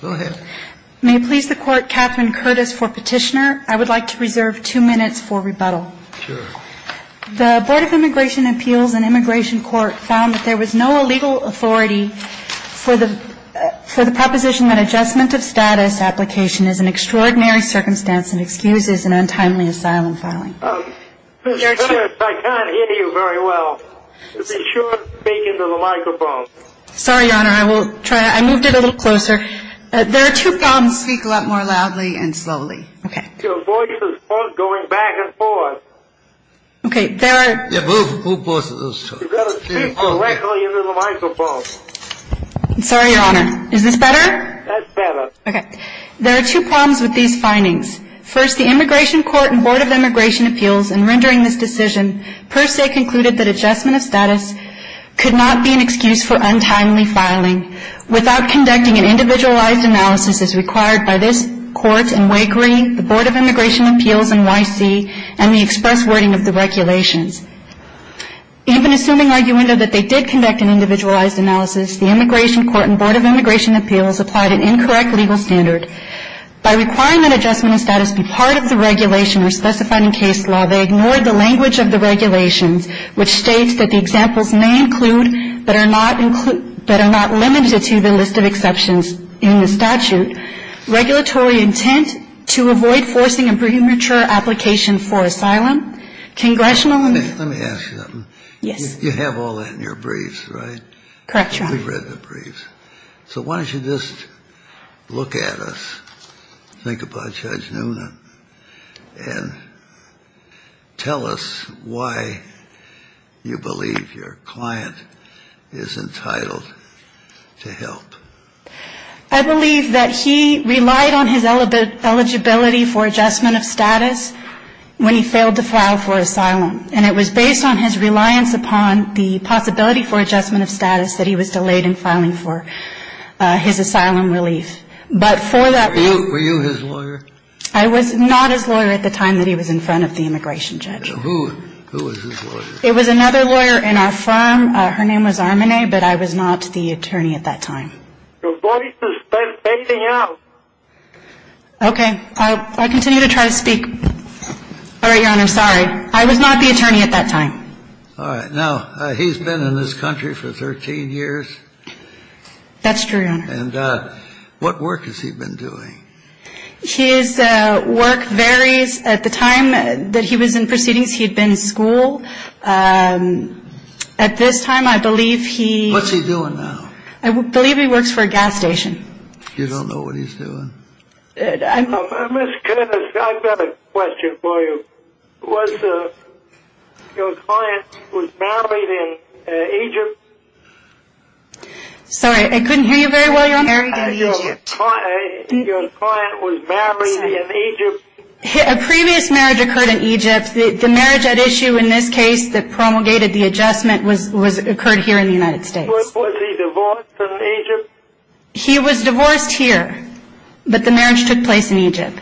Go ahead. May it please the Court, Catherine Curtis for petitioner. I would like to reserve two minutes for rebuttal. Sure. The Board of Immigration Appeals and Immigration Court found that there was no legal authority for the proposition that adjustment of status application is an extraordinary circumstance and excuses an untimely asylum filing. Senator, I can't hear you very well. You should speak into the microphone. Sorry, Your Honor. I will try. I moved it a little closer. There are two problems. Speak a lot more loudly and slowly. Your voice is both going back and forth. Okay. There are... Yeah, both voices. You've got to speak directly into the microphone. Sorry, Your Honor. Is this better? That's better. Okay. There are two problems with these findings. First, the Immigration Court and Board of Immigration Appeals in rendering this decision per se concluded that adjustment of status could not be an excuse for untimely filing without conducting an individualized analysis as required by this Court and WAKERI, the Board of Immigration Appeals and YC, and the express wording of the regulations. Even assuming, arguendo, that they did conduct an individualized analysis, the Immigration Court and Board of Immigration Appeals applied an incorrect legal standard. By requiring that adjustment of status be part of the regulation or specified in case law, they ignored the language of the regulations, which states that the examples may include but are not limited to the list of exceptions in the statute. Regulatory intent to avoid forcing a premature application for asylum. Congressional... Let me ask you something. Yes. You have all that in your briefs, right? Correct, Your Honor. We've read the briefs. So why don't you just look at us, think about Judge Nuna, and tell us why you believe your client is entitled to help. I believe that he relied on his eligibility for adjustment of status when he failed to file for asylum. And it was based on his reliance upon the possibility for adjustment of status that he was delayed in filing for his asylum relief. But for that reason... Were you his lawyer? I was not his lawyer at the time that he was in front of the immigration judge. Who was his lawyer? It was another lawyer in our firm. Her name was Armanet, but I was not the attorney at that time. Your voice is fading out. Okay. I'll continue to try to speak. All right, Your Honor, sorry. I was not the attorney at that time. All right. Now, he's been in this country for 13 years. That's true, Your Honor. And what work has he been doing? His work varies. At the time that he was in proceedings, he had been in school. At this time, I believe he... What's he doing now? I believe he works for a gas station. You don't know what he's doing? Ms. Curtis, I've got a question for you. Was your client married in Egypt? Sorry, I couldn't hear you very well, Your Honor. Your client was married in Egypt? A previous marriage occurred in Egypt. The marriage at issue in this case that promulgated the adjustment occurred here in the United States. Was he divorced in Egypt? He was divorced here, but the marriage took place in Egypt.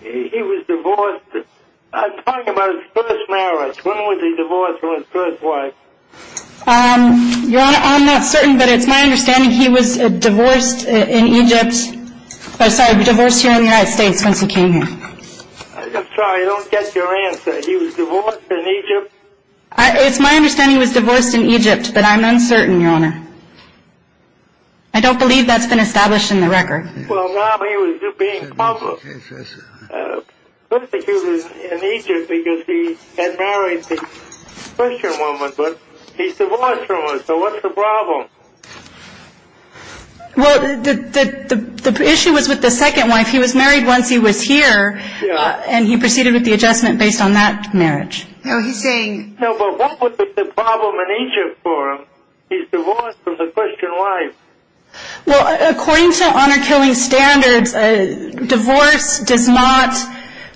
He was divorced? I'm talking about his first marriage. When was he divorced from his first wife? Your Honor, I'm not certain, but it's my understanding he was divorced in Egypt. Sorry, divorced here in the United States once he came here. I'm sorry, I don't get your answer. He was divorced in Egypt? It's my understanding he was divorced in Egypt, but I'm uncertain, Your Honor. I don't believe that's been established in the record. Well, now he was being public. Let's say he was in Egypt because he had married the Christian woman, but he's divorced from her. So what's the problem? Well, the issue was with the second wife. He was married once he was here, and he proceeded with the adjustment based on that marriage. No, but what was the problem in Egypt for him? He's divorced from the Christian wife. Well, according to honor-killing standards, divorce does not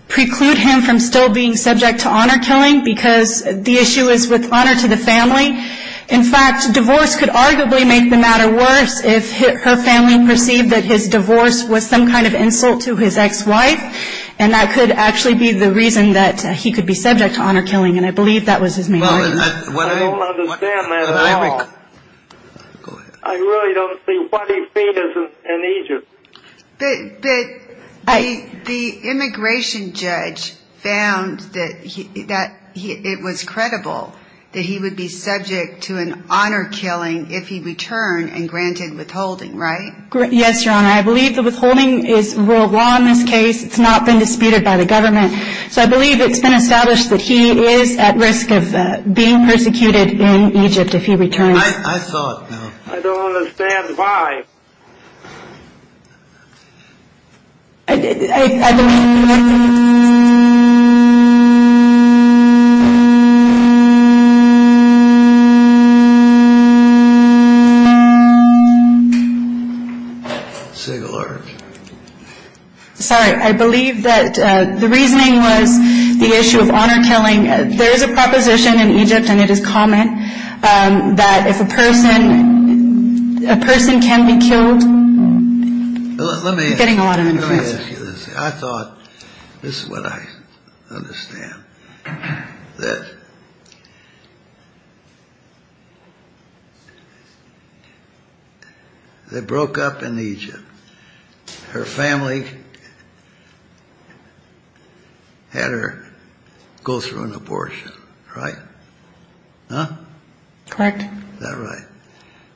preclude him from still being subject to honor-killing because the issue is with honor to the family. In fact, divorce could arguably make the matter worse if her family perceived that his divorce was some kind of insult to his ex-wife, and that could actually be the reason that he could be subject to honor-killing, and I believe that was his main argument. Well, I don't understand that at all. I really don't see what he did in Egypt. But the immigration judge found that it was credible that he would be subject to an honor-killing if he returned and granted withholding, right? Yes, Your Honor. And I believe the withholding is rule of law in this case. It's not been disputed by the government. So I believe it's been established that he is at risk of being persecuted in Egypt if he returns. I saw it now. I don't understand why. I believe that the reasoning was the issue of honor-killing. There is a proposition in Egypt, and it is common, that if a person can be killed, it's getting a lot of interest. Let me ask you this. I thought, this is what I understand, that they broke up in Egypt. Her family had her go through an abortion, right? Huh? Correct. Is that right?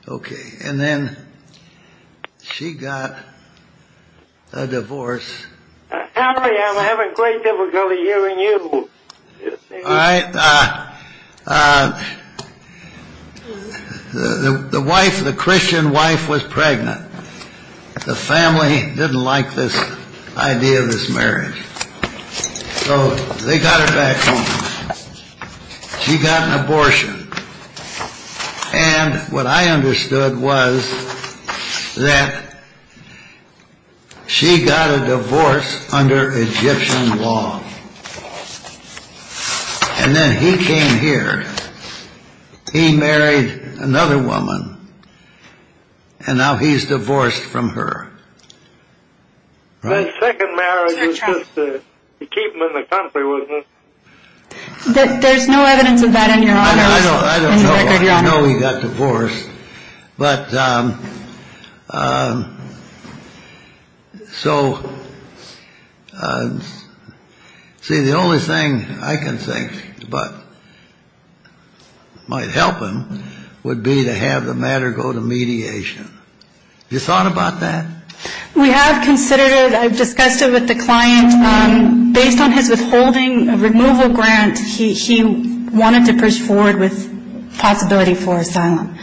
Okay. And then she got a divorce. Henry, I'm having great difficulty hearing you. All right. The wife, the Christian wife, was pregnant. The family didn't like this idea of this marriage. So they got her back home. She got an abortion. And what I understood was that she got a divorce under Egyptian law. And then he came here. He married another woman, and now he's divorced from her. That second marriage was just to keep him in the country, wasn't it? There's no evidence of that in your office. I don't know. You know he got divorced. But so, see, the only thing I can think might help him would be to have the matter go to mediation. Have you thought about that? We have considered it. I've discussed it with the client. Based on his withholding removal grant, he wanted to push forward with possibility for asylum.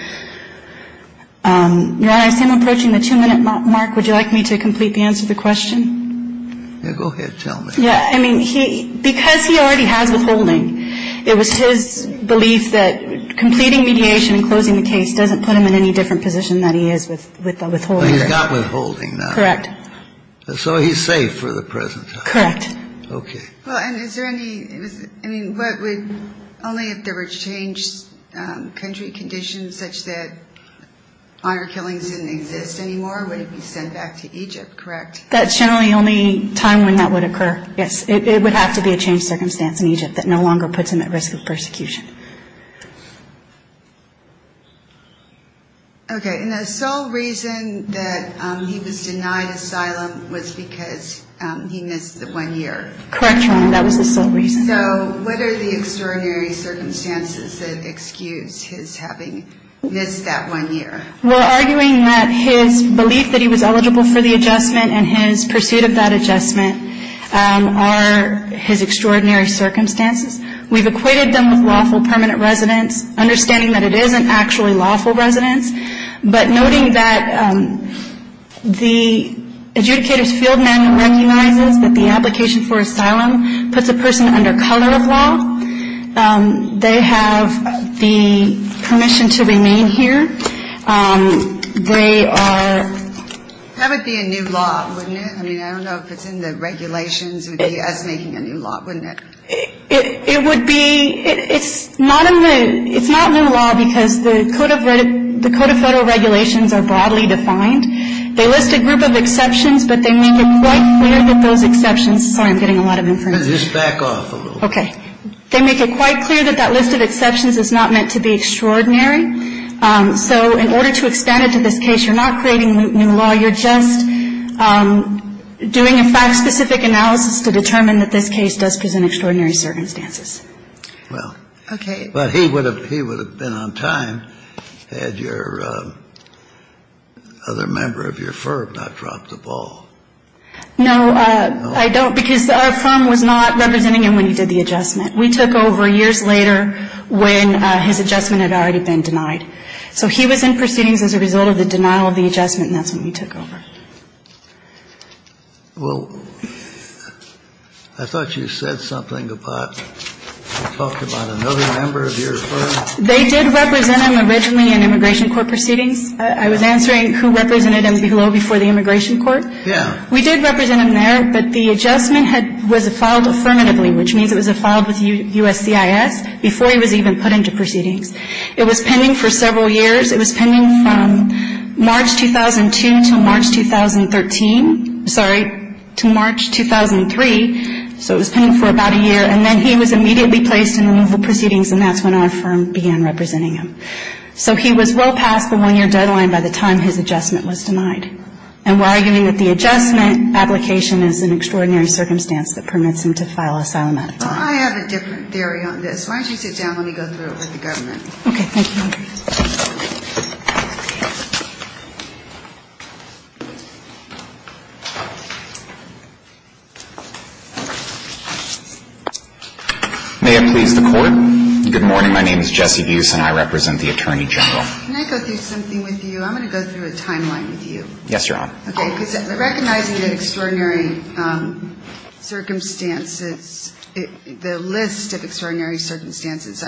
Your Honor, I see I'm approaching the two-minute mark. Would you like me to complete the answer to the question? Yeah, go ahead. Tell me. Yeah. I mean, because he already has withholding, it was his belief that completing mediation and closing the case doesn't put him in any different position than he is with withholding. He's got withholding now. Correct. So he's safe for the present time. Correct. Okay. Well, and is there any ñ I mean, what would ñ only if there were changed country conditions such that honor killings didn't exist anymore would he be sent back to Egypt, correct? That's generally the only time when that would occur, yes. It would have to be a changed circumstance in Egypt that no longer puts him at risk of persecution. Okay. And the sole reason that he was denied asylum was because he missed the one year. Correct, Your Honor. That was the sole reason. So what are the extraordinary circumstances that excuse his having missed that one year? We're arguing that his belief that he was eligible for the adjustment and his pursuit of that adjustment are his extraordinary circumstances. We've equated them with lawful permanent residence, understanding that it isn't actually lawful residence, but noting that the adjudicator's field manual recognizes that the application for asylum puts a person under color of law. They have the permission to remain here. They are ñ That would be a new law, wouldn't it? I mean, I don't know if it's in the regulations. It would be us making a new law, wouldn't it? It would be ñ it's not in the ñ it's not new law because the code of ñ the code of federal regulations are broadly defined. They list a group of exceptions, but they make it quite clear that those exceptions ñ sorry, I'm getting a lot of information. Let's just back off a little. Okay. They make it quite clear that that list of exceptions is not meant to be extraordinary. So in order to expand it to this case, you're not creating new law. You're just doing a fact-specific analysis to determine that this case does present extraordinary circumstances. Well. Okay. But he would have ñ he would have been on time had your other member of your firm not dropped the ball. No, I don't because our firm was not representing him when he did the adjustment. We took over years later when his adjustment had already been denied. So he was in proceedings as a result of the denial of the adjustment, and that's when we took over. Well, I thought you said something about ñ you talked about another member of your firm. They did represent him originally in immigration court proceedings. I was answering who represented him below before the immigration court. Yeah. We did represent him there, but the adjustment had ñ was filed affirmatively, which means it was filed with USCIS before he was even put into proceedings. It was pending for several years. It was pending from March 2002 to March 2013. Sorry. To March 2003. So it was pending for about a year. And then he was immediately placed in removal proceedings, and that's when our firm began representing him. So he was well past the one-year deadline by the time his adjustment was denied. And we're arguing that the adjustment application is an extraordinary circumstance that permits him to file asylum at a time. Well, I have a different theory on this. Why don't you sit down and let me go through it with the government. Okay. Thank you. May it please the Court. Good morning. My name is Jesse Buse, and I represent the Attorney General. Can I go through something with you? I'm going to go through a timeline with you. Yes, Your Honor. Okay. Recognizing that extraordinary circumstances, the list of extraordinary circumstances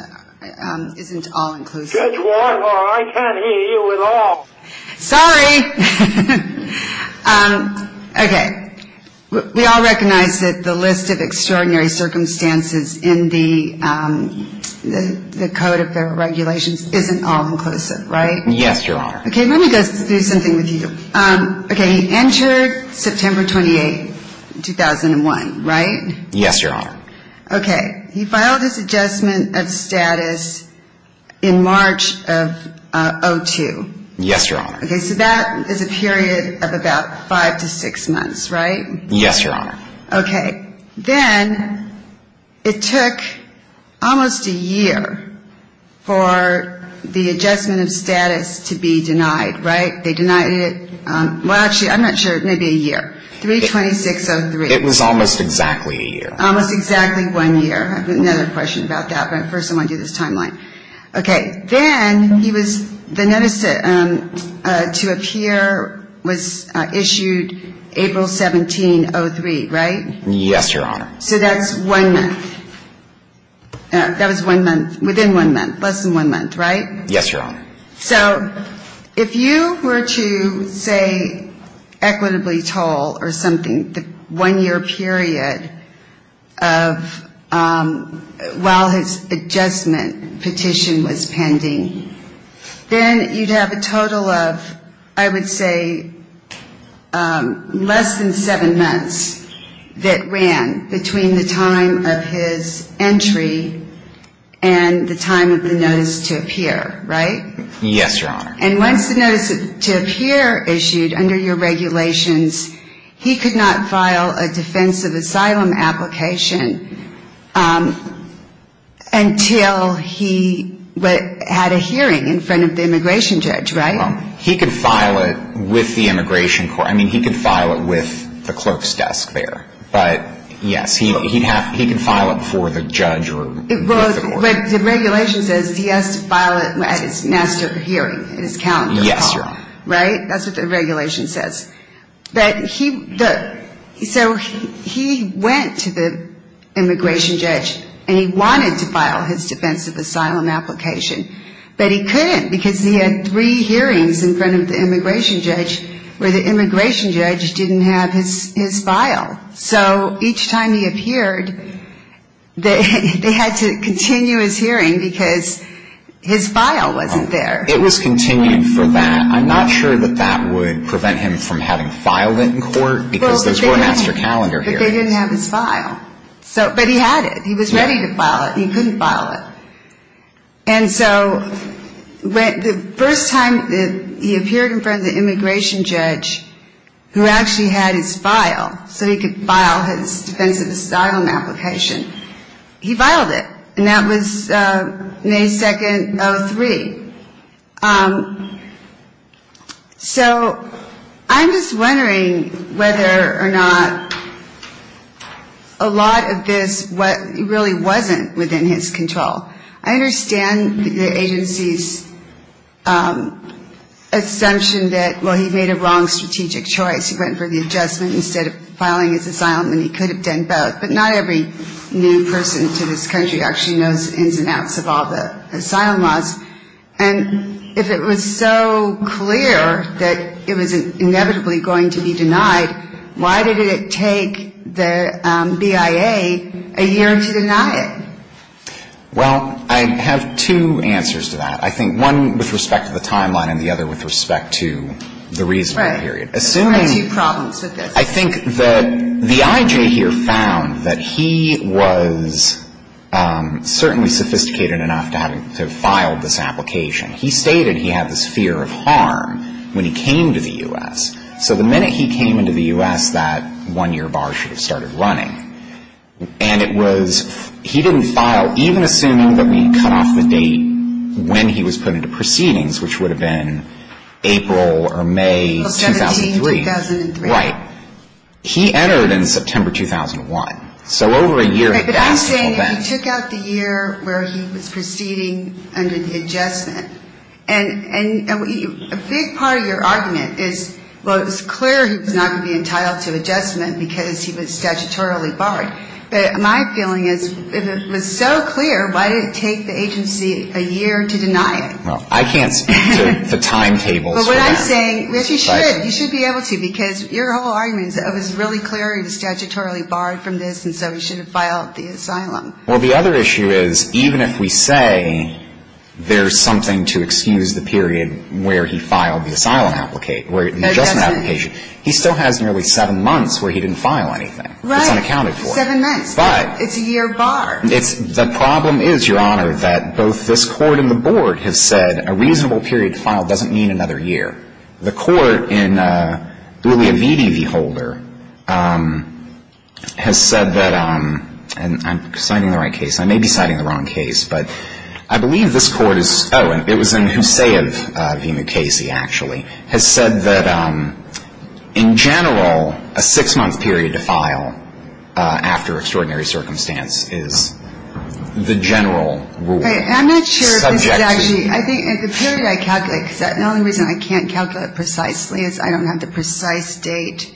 isn't all-inclusive. Judge Warner, I can't hear you at all. Sorry. Okay. We all recognize that the list of extraordinary circumstances in the Code of Regulations isn't all-inclusive, right? Yes, Your Honor. Okay. Let me go through something with you. Okay. He entered September 28, 2001, right? Yes, Your Honor. Okay. He filed his adjustment of status in March of 02. Yes, Your Honor. Okay. So that is a period of about five to six months, right? Yes, Your Honor. Okay. Then it took almost a year for the adjustment of status to be denied, right? They denied it. Well, actually, I'm not sure. Maybe a year. 3-26-03. It was almost exactly a year. Almost exactly one year. I have another question about that, but first I want to do this timeline. Okay. Then he was the notice to appear was issued April 17, 03, right? Yes, Your Honor. So that's one month. That was one month. Within one month. Less than one month, right? Yes, Your Honor. So if you were to say equitably tall or something, the one-year period of while his adjustment petition was pending, then you'd have a total of, I would say, less than seven months that ran between the time of his entry and the time of the notice to appear, right? Yes, Your Honor. And once the notice to appear issued under your regulations, he could not file a defensive asylum application until he had a hearing in front of the immigration judge, right? Well, he could file it with the immigration court. I mean, he could file it with the clerk's desk there. But, yes, he can file it before the judge. Well, the regulation says he has to file it at his master hearing, his calendar. Yes, Your Honor. Right? That's what the regulation says. So he went to the immigration judge, and he wanted to file his defensive asylum application, but he couldn't because he had three hearings in front of the immigration judge where the immigration judge didn't have his file. So each time he appeared, they had to continue his hearing because his file wasn't there. It was continued for that. I'm not sure that that would prevent him from having filed it in court because those were master calendar hearings. But they didn't have his file. But he had it. He was ready to file it. He couldn't file it. And so the first time that he appeared in front of the immigration judge who actually had his file so he could file his defensive asylum application, he filed it. And that was May 2nd, 2003. So I'm just wondering whether or not a lot of this really wasn't within his control. I understand the agency's assumption that, well, he made a wrong strategic choice. He went for the adjustment instead of filing his asylum, and he could have done both. But not every new person to this country actually knows ins and outs of all the asylum laws. And if it was so clear that it was inevitably going to be denied, why did it take the BIA a year to deny it? Well, I have two answers to that. I think one with respect to the timeline and the other with respect to the reasonable period. Right. I have two problems with this. I think that the I.J. here found that he was certainly sophisticated enough to have filed this application. He stated he had this fear of harm when he came to the U.S. So the minute he came into the U.S., that one-year bar should have started running. And it was he didn't file, even assuming that we cut off the date when he was put into proceedings, which would have been April or May 2003. Of 17, 2003. Right. He entered in September 2001. So over a year and a half. But I'm saying if he took out the year where he was proceeding under the adjustment. And a big part of your argument is, well, it was clear he was not going to be entitled to adjustment because he was statutorily barred. But my feeling is if it was so clear, why did it take the agency a year to deny it? Well, I can't speak to the timetables for that. I'm saying, yes, you should. You should be able to, because your whole argument is that it was really clear he was statutorily barred from this, and so he shouldn't have filed the asylum. Well, the other issue is even if we say there's something to excuse the period where he filed the asylum application, the adjustment application, he still has nearly seven months where he didn't file anything. Right. It's unaccounted for. Seven months. But. It's a year bar. The problem is, Your Honor, that both this court and the board have said a reasonable period to file doesn't mean another year. The court in Uliavidi v. Holder has said that, and I'm citing the right case. I may be citing the wrong case, but I believe this court is, oh, it was in Huseyev v. Mukasey, actually, has said that, in general, a six-month period to file after extraordinary circumstance is the general rule. I'm not sure if this is actually, I think the period I calculate, because the only reason I can't calculate precisely is I don't have the precise date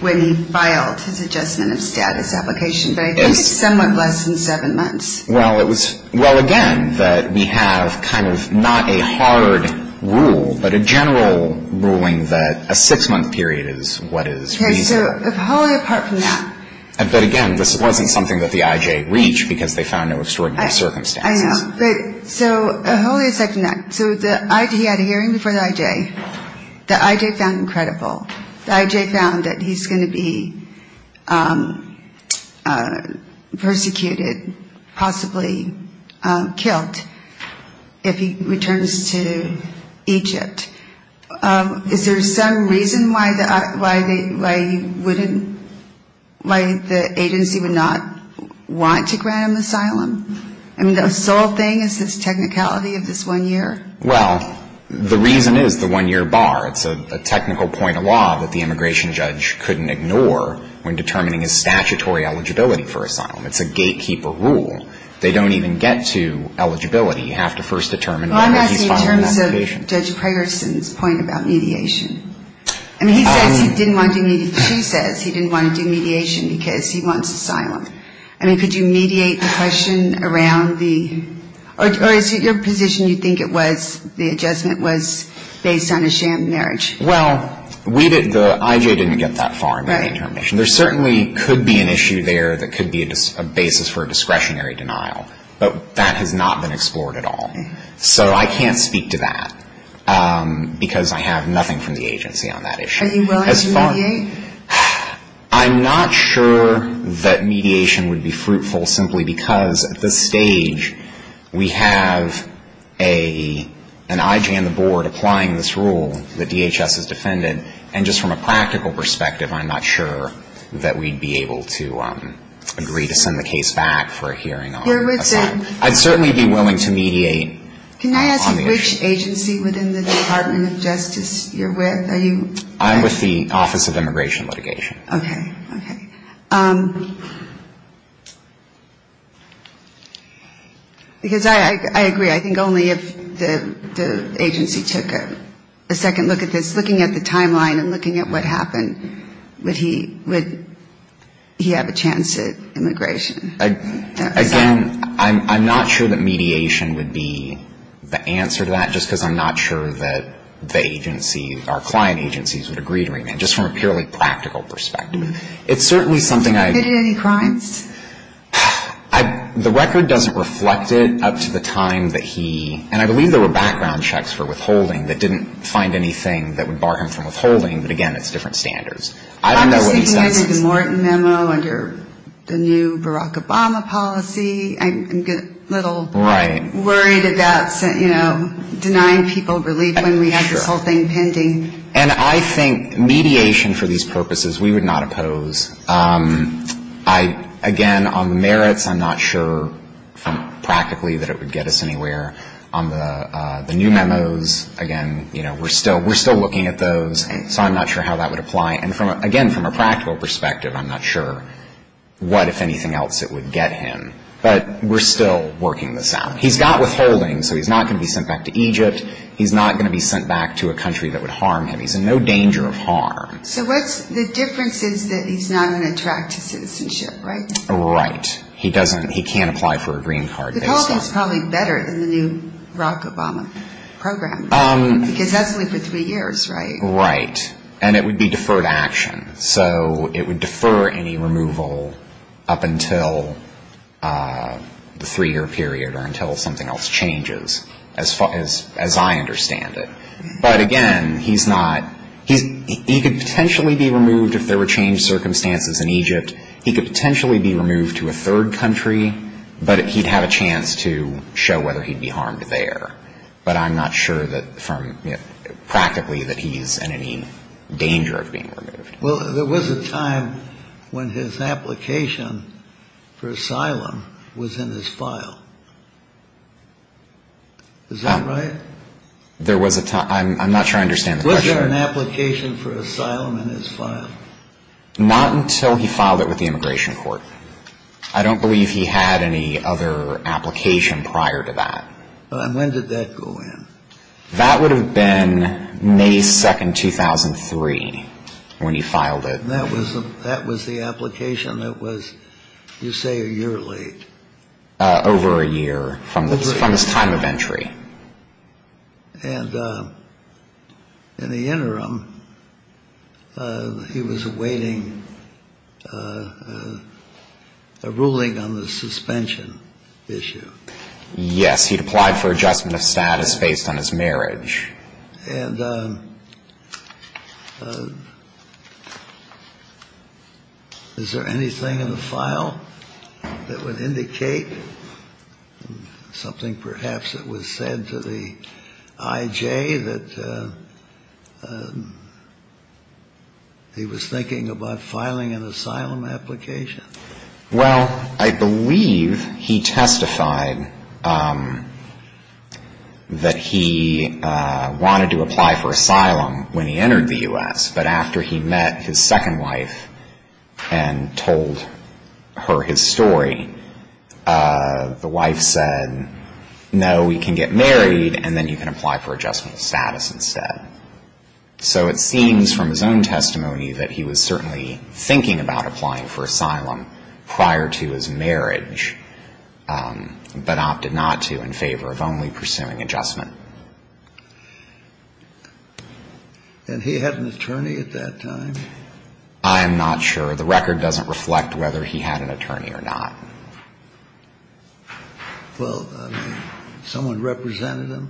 when he filed his adjustment of status application, but I think it's somewhat less than seven months. Well, it was, well, again, that we have kind of not a hard rule, but a general ruling that a six-month period is what is reasonable. Okay. So wholly apart from that. But, again, this wasn't something that the I.J. reached because they found no extraordinary circumstances. I know. But so wholly aside from that, so the I.J. had a hearing before the I.J. The I.J. found him credible. The I.J. found that he's going to be persecuted, possibly killed, if he returns to Egypt. Is there some reason why the agency would not want to grant him asylum? I mean, the sole thing is his technicality of this one year? Well, the reason is the one-year bar. It's a technical point of law that the immigration judge couldn't ignore when determining his statutory eligibility for asylum. It's a gatekeeper rule. They don't even get to eligibility. You have to first determine whether he's filing the application. Well, I'm asking in terms of Judge Preyerson's point about mediation. I mean, he says he didn't want to do mediation. She says he didn't want to do mediation because he wants asylum. I mean, could you mediate the question around the or is it your position you think it was, the adjustment was based on a sham marriage? Well, we didn't, the I.J. didn't get that far in the intermission. There certainly could be an issue there that could be a basis for a discretionary denial. But that has not been explored at all. So I can't speak to that because I have nothing from the agency on that issue. Are you willing to mediate? I'm not sure that mediation would be fruitful simply because at this stage we have an I.J. on the board applying this rule that DHS has defended, and just from a practical perspective, I'm not sure that we'd be able to agree to send the case back for a hearing on asylum. I'd certainly be willing to mediate on the issue. Can I ask which agency within the Department of Justice you're with? I'm with the Office of Immigration Litigation. Okay. Because I agree, I think only if the agency took a second look at this, looking at the timeline and looking at what happened, would he have a chance at immigration. Again, I'm not sure that mediation would be the answer to that, just because I'm not sure that the agency, our client agencies, would agree to remand, just from a purely practical perspective. It's certainly something I... Have you committed any crimes? The record doesn't reflect it up to the time that he... And I believe there were background checks for withholding that didn't find anything that would bar him from withholding. But, again, it's different standards. I don't know what he says. Well, I'm just looking at the Morton memo under the new Barack Obama policy. I'm a little... Right.... worried about, you know, denying people relief when we had this whole thing pending. And I think mediation for these purposes, we would not oppose. I, again, on the merits, I'm not sure practically that it would get us anywhere. On the new memos, again, you know, we're still looking at those, so I'm not sure how that would apply. And, again, from a practical perspective, I'm not sure what, if anything else, it would get him. But we're still working this out. He's got withholding, so he's not going to be sent back to Egypt. He's not going to be sent back to a country that would harm him. He's in no danger of harm. So what's the difference is that he's not going to attract to citizenship, right? Right. He doesn't... He can't apply for a green card based on... Withholding is probably better than the new Barack Obama program. Because that's only for three years, right? Right. And it would be deferred action. So it would defer any removal up until the three-year period or until something else changes, as far as I understand it. But, again, he's not... He could potentially be removed if there were changed circumstances in Egypt. He could potentially be removed to a third country. But he'd have a chance to show whether he'd be harmed there. But I'm not sure that from practically that he's in any danger of being removed. Well, there was a time when his application for asylum was in his file. Is that right? There was a time... I'm not sure I understand the question. Was there an application for asylum in his file? Not until he filed it with the Immigration Court. I don't believe he had any other application prior to that. And when did that go in? That would have been May 2, 2003, when he filed it. And that was the application that was, you say, a year late. Over a year from his time of entry. And in the interim, he was awaiting a ruling on the suspension issue. Yes. He'd applied for adjustment of status based on his marriage. And is there anything in the file that would indicate something perhaps that was said to the I.J. that he was thinking about filing an asylum application? Well, I believe he testified that he wanted to apply for asylum when he entered the U.S. But after he met his second wife and told her his story, the wife said, no, we can get married and then you can apply for adjustment of status instead. So it seems from his own testimony that he was certainly thinking about applying for asylum prior to his marriage, but opted not to in favor of only pursuing adjustment. And he had an attorney at that time? I am not sure. The record doesn't reflect whether he had an attorney or not. Well, I mean, someone represented him?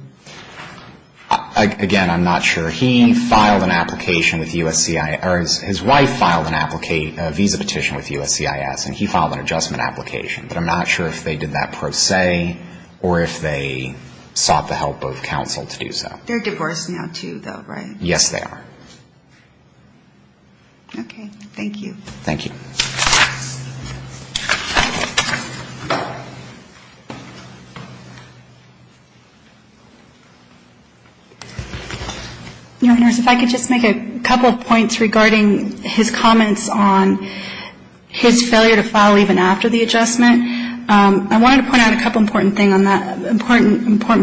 Again, I'm not sure. He filed an application with USCIS or his wife filed a visa petition with USCIS and he filed an adjustment application. But I'm not sure if they did that pro se or if they sought the help of counsel to do so. They're divorced now, too, though, right? Yes, they are. Okay. Thank you. Thank you. Your Honors, if I could just make a couple of points regarding his comments on his failure to file even after the adjustment. I wanted to point out a couple of important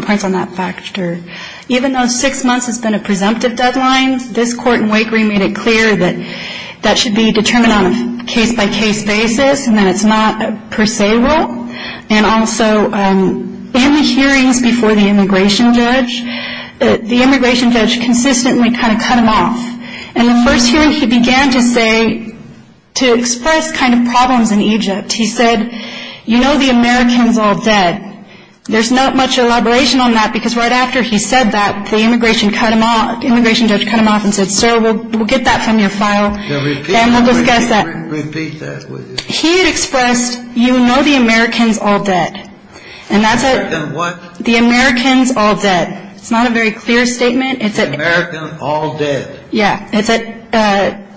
points on that factor. Even though six months has been a presumptive deadline, this court in Wake Green made it clear that that should be determined on a case-by-case basis and that it's not a pro se rule. And also, in the hearings before the immigration judge, the immigration judge consistently kind of cut him off. And the first hearing he began to say, to express kind of problems in Egypt, he said, you know the American's all dead. There's not much elaboration on that because right after he said that, the immigration judge cut him off and said, sir, we'll get that from your file and we'll discuss that. Repeat that. He had expressed, you know the American's all dead. And that's it. The American's what? The American's all dead. It's not a very clear statement. The American's all dead. Yeah. It's at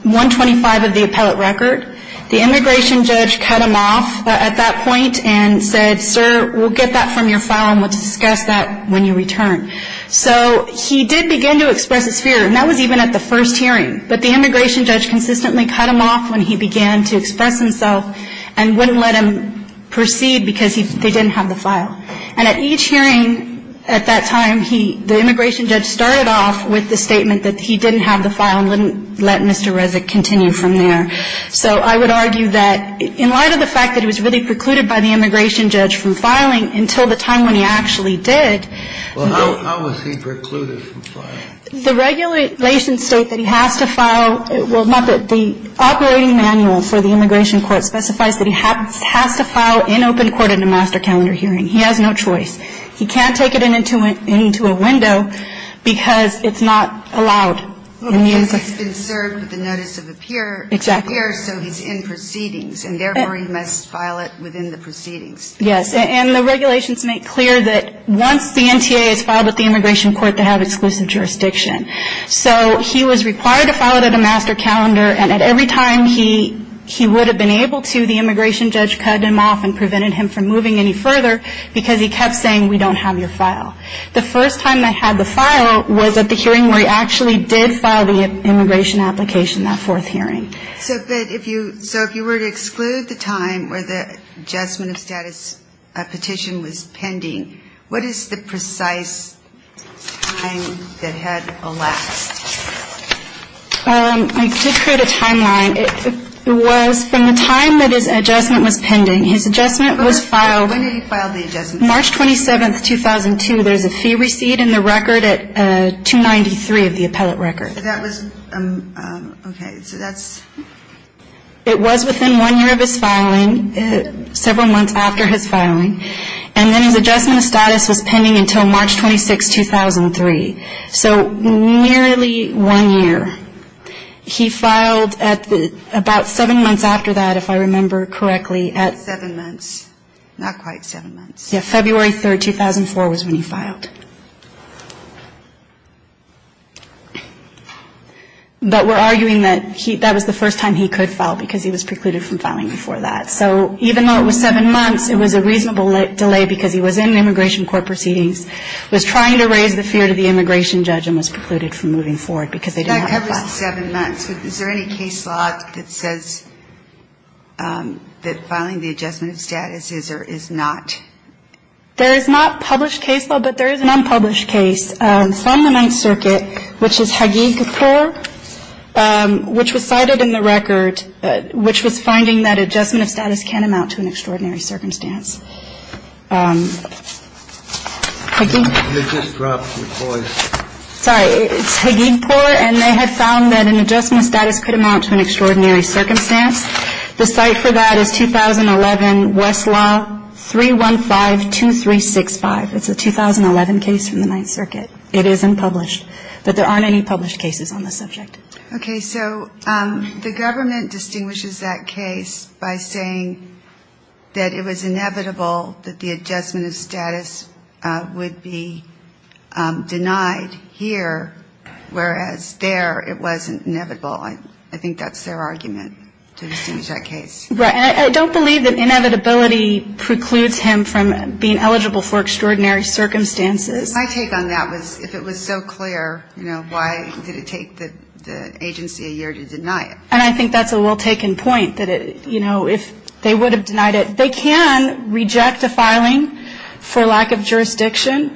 125 of the appellate record. The immigration judge cut him off at that point and said, sir, we'll get that from your file and we'll discuss that when you return. So he did begin to express his fear, and that was even at the first hearing. But the immigration judge consistently cut him off when he began to express himself and wouldn't let him proceed because they didn't have the file. And at each hearing at that time, the immigration judge started off with the statement that he didn't have the file and wouldn't let Mr. Rezek continue from there. So I would argue that in light of the fact that he was really precluded by the immigration judge from filing until the time when he actually did. Well, how was he precluded from filing? The regulations state that he has to file the operating manual for the immigration court specifies that he has to file in open court in a master calendar hearing. He has no choice. He can't take it into a window because it's not allowed. Because he's been served with the notice of appearance. Exactly. So he's in proceedings, and therefore he must file it within the proceedings. Yes. And the regulations make clear that once the NTA is filed with the immigration court, they have exclusive jurisdiction. So he was required to file it at a master calendar. And at every time he would have been able to, the immigration judge cut him off and prevented him from moving any further because he kept saying, we don't have your file. The first time they had the file was at the hearing where he actually did file the immigration application, that fourth hearing. So if you were to exclude the time where the adjustment of status petition was pending, what is the precise time that had elapsed? I did create a timeline. It was from the time that his adjustment was pending. His adjustment was filed. When did he file the adjustment? March 27, 2002. There's a fee receipt in the record at 293 of the appellate record. So that was, okay, so that's. It was within one year of his filing, several months after his filing. And then his adjustment of status was pending until March 26, 2003. So nearly one year. He filed about seven months after that, if I remember correctly. Seven months. Not quite seven months. Yeah, February 3, 2004 was when he filed. But we're arguing that that was the first time he could file because he was precluded from filing before that. So even though it was seven months, it was a reasonable delay because he was in immigration court proceedings, was trying to raise the fear to the immigration judge, and was precluded from moving forward because they didn't want to file. That covers the seven months. Is there any case law that says that filing the adjustment of status is or is not? There is not published case law, but there is an unpublished case from the Ninth Circuit, which is Hagigpour, which was cited in the record, which was finding that adjustment of status can amount to an extraordinary circumstance. Sorry, it's Hagigpour, and they had found that an adjustment of status could amount to an extraordinary circumstance. The site for that is 2011 Westlaw 3152365. It's a 2011 case from the Ninth Circuit. It is unpublished. But there aren't any published cases on the subject. Okay. So the government distinguishes that case by saying that it was inevitable that the adjustment of status would be denied here, whereas there it wasn't inevitable. I think that's their argument to distinguish that case. Right. And I don't believe that inevitability precludes him from being eligible for extraordinary circumstances. My take on that was if it was so clear, you know, why did it take the agency a year to deny it? And I think that's a well-taken point, that, you know, if they would have denied it. They can reject a filing for lack of jurisdiction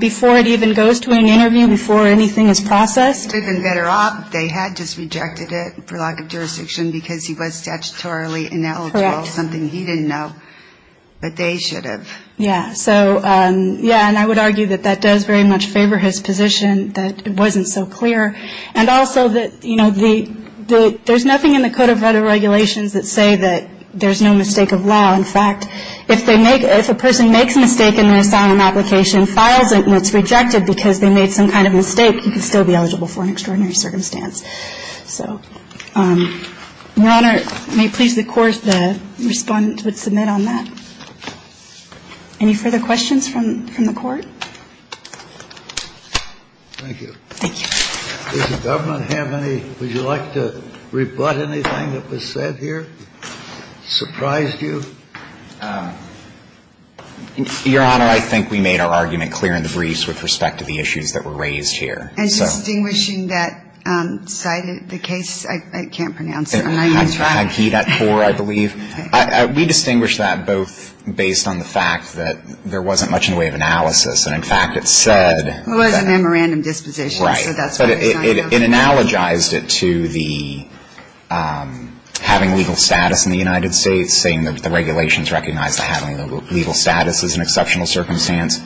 before it even goes to an interview, before anything is processed. They've been better off if they had just rejected it for lack of jurisdiction because he was statutorily ineligible, something he didn't know, but they should have. Yeah. So, yeah. And I would argue that that does very much favor his position, that it wasn't so clear. And also that, you know, there's nothing in the Code of Regulations that say that there's no mistake of law. In fact, if a person makes a mistake in their asylum application, files it and it's rejected because they made some kind of mistake, he can still be eligible for an extraordinary circumstance. So, Your Honor, may it please the Court, the Respondent would submit on that. Any further questions from the Court? Thank you. Thank you. Does the Government have any? Would you like to rebut anything that was said here, surprised you? Your Honor, I think we made our argument clear in the briefs with respect to the issues that were raised here. And distinguishing that side of the case? I can't pronounce it. I'm not used to it. Agitator, I believe. Okay. We distinguished that both based on the fact that there wasn't much in the way of analysis. And, in fact, it said that. It was a memorandum disposition. Right. So that's why it's not here. But it analogized it to the having legal status in the United States, saying that the regulations recognize that having legal status is an exceptional circumstance,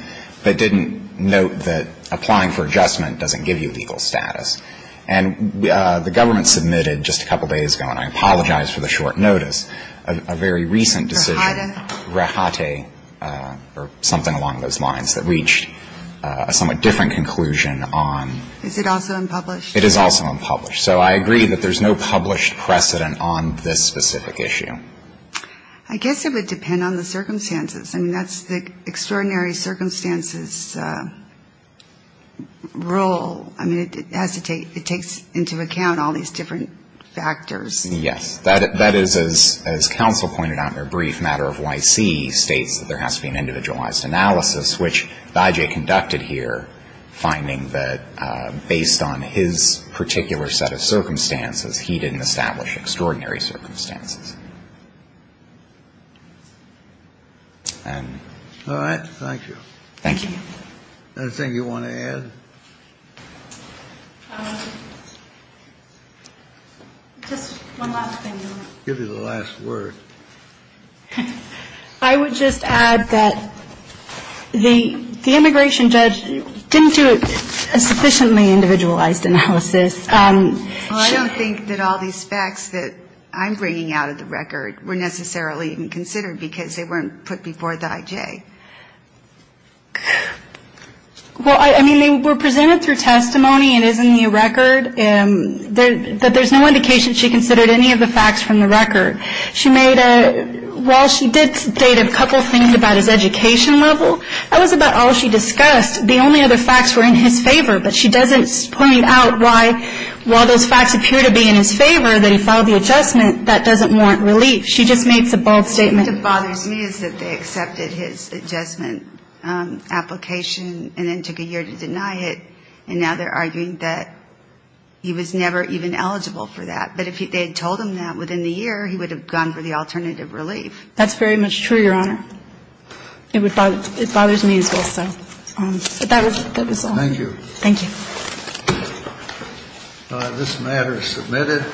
but didn't note that applying for adjustment doesn't give you legal status. And the Government submitted just a couple days ago, and I apologize for the short notice, a very recent decision. Rehata? Rehata, or something along those lines, that reached a somewhat different conclusion on. Is it also unpublished? It is also unpublished. So I agree that there's no published precedent on this specific issue. I guess it would depend on the circumstances. I mean, that's the extraordinary circumstances rule. I mean, it has to take into account all these different factors. Yes. That is, as counsel pointed out in a brief matter of YC, states that there has to be an individualized analysis, which Bajaj conducted here, finding that based on his particular set of circumstances, he didn't establish extraordinary circumstances. And so that's what I'm saying. All right. Thank you. Thank you. Anything you want to add? Just one last thing. I'll give you the last word. I would just add that the immigration judge didn't do a sufficiently individualized analysis. Well, I don't think that all these facts that I'm bringing out of the record were necessarily even considered because they weren't put before the IJ. Well, I mean, they were presented through testimony. It is in the record. But there's no indication she considered any of the facts from the record. While she did state a couple things about his education level, that was about all she discussed. The only other facts were in his favor, but she doesn't point out why while those facts appear to be in his favor that he filed the adjustment, that doesn't warrant relief. She just makes a bold statement. What bothers me is that they accepted his adjustment application and then took a year to deny it, and now they're arguing that he was never even eligible for that. But if they had told him that within the year, he would have gone for the alternative relief. That's very much true, Your Honor. It bothers me as well, so. But that was all. This matter is submitted.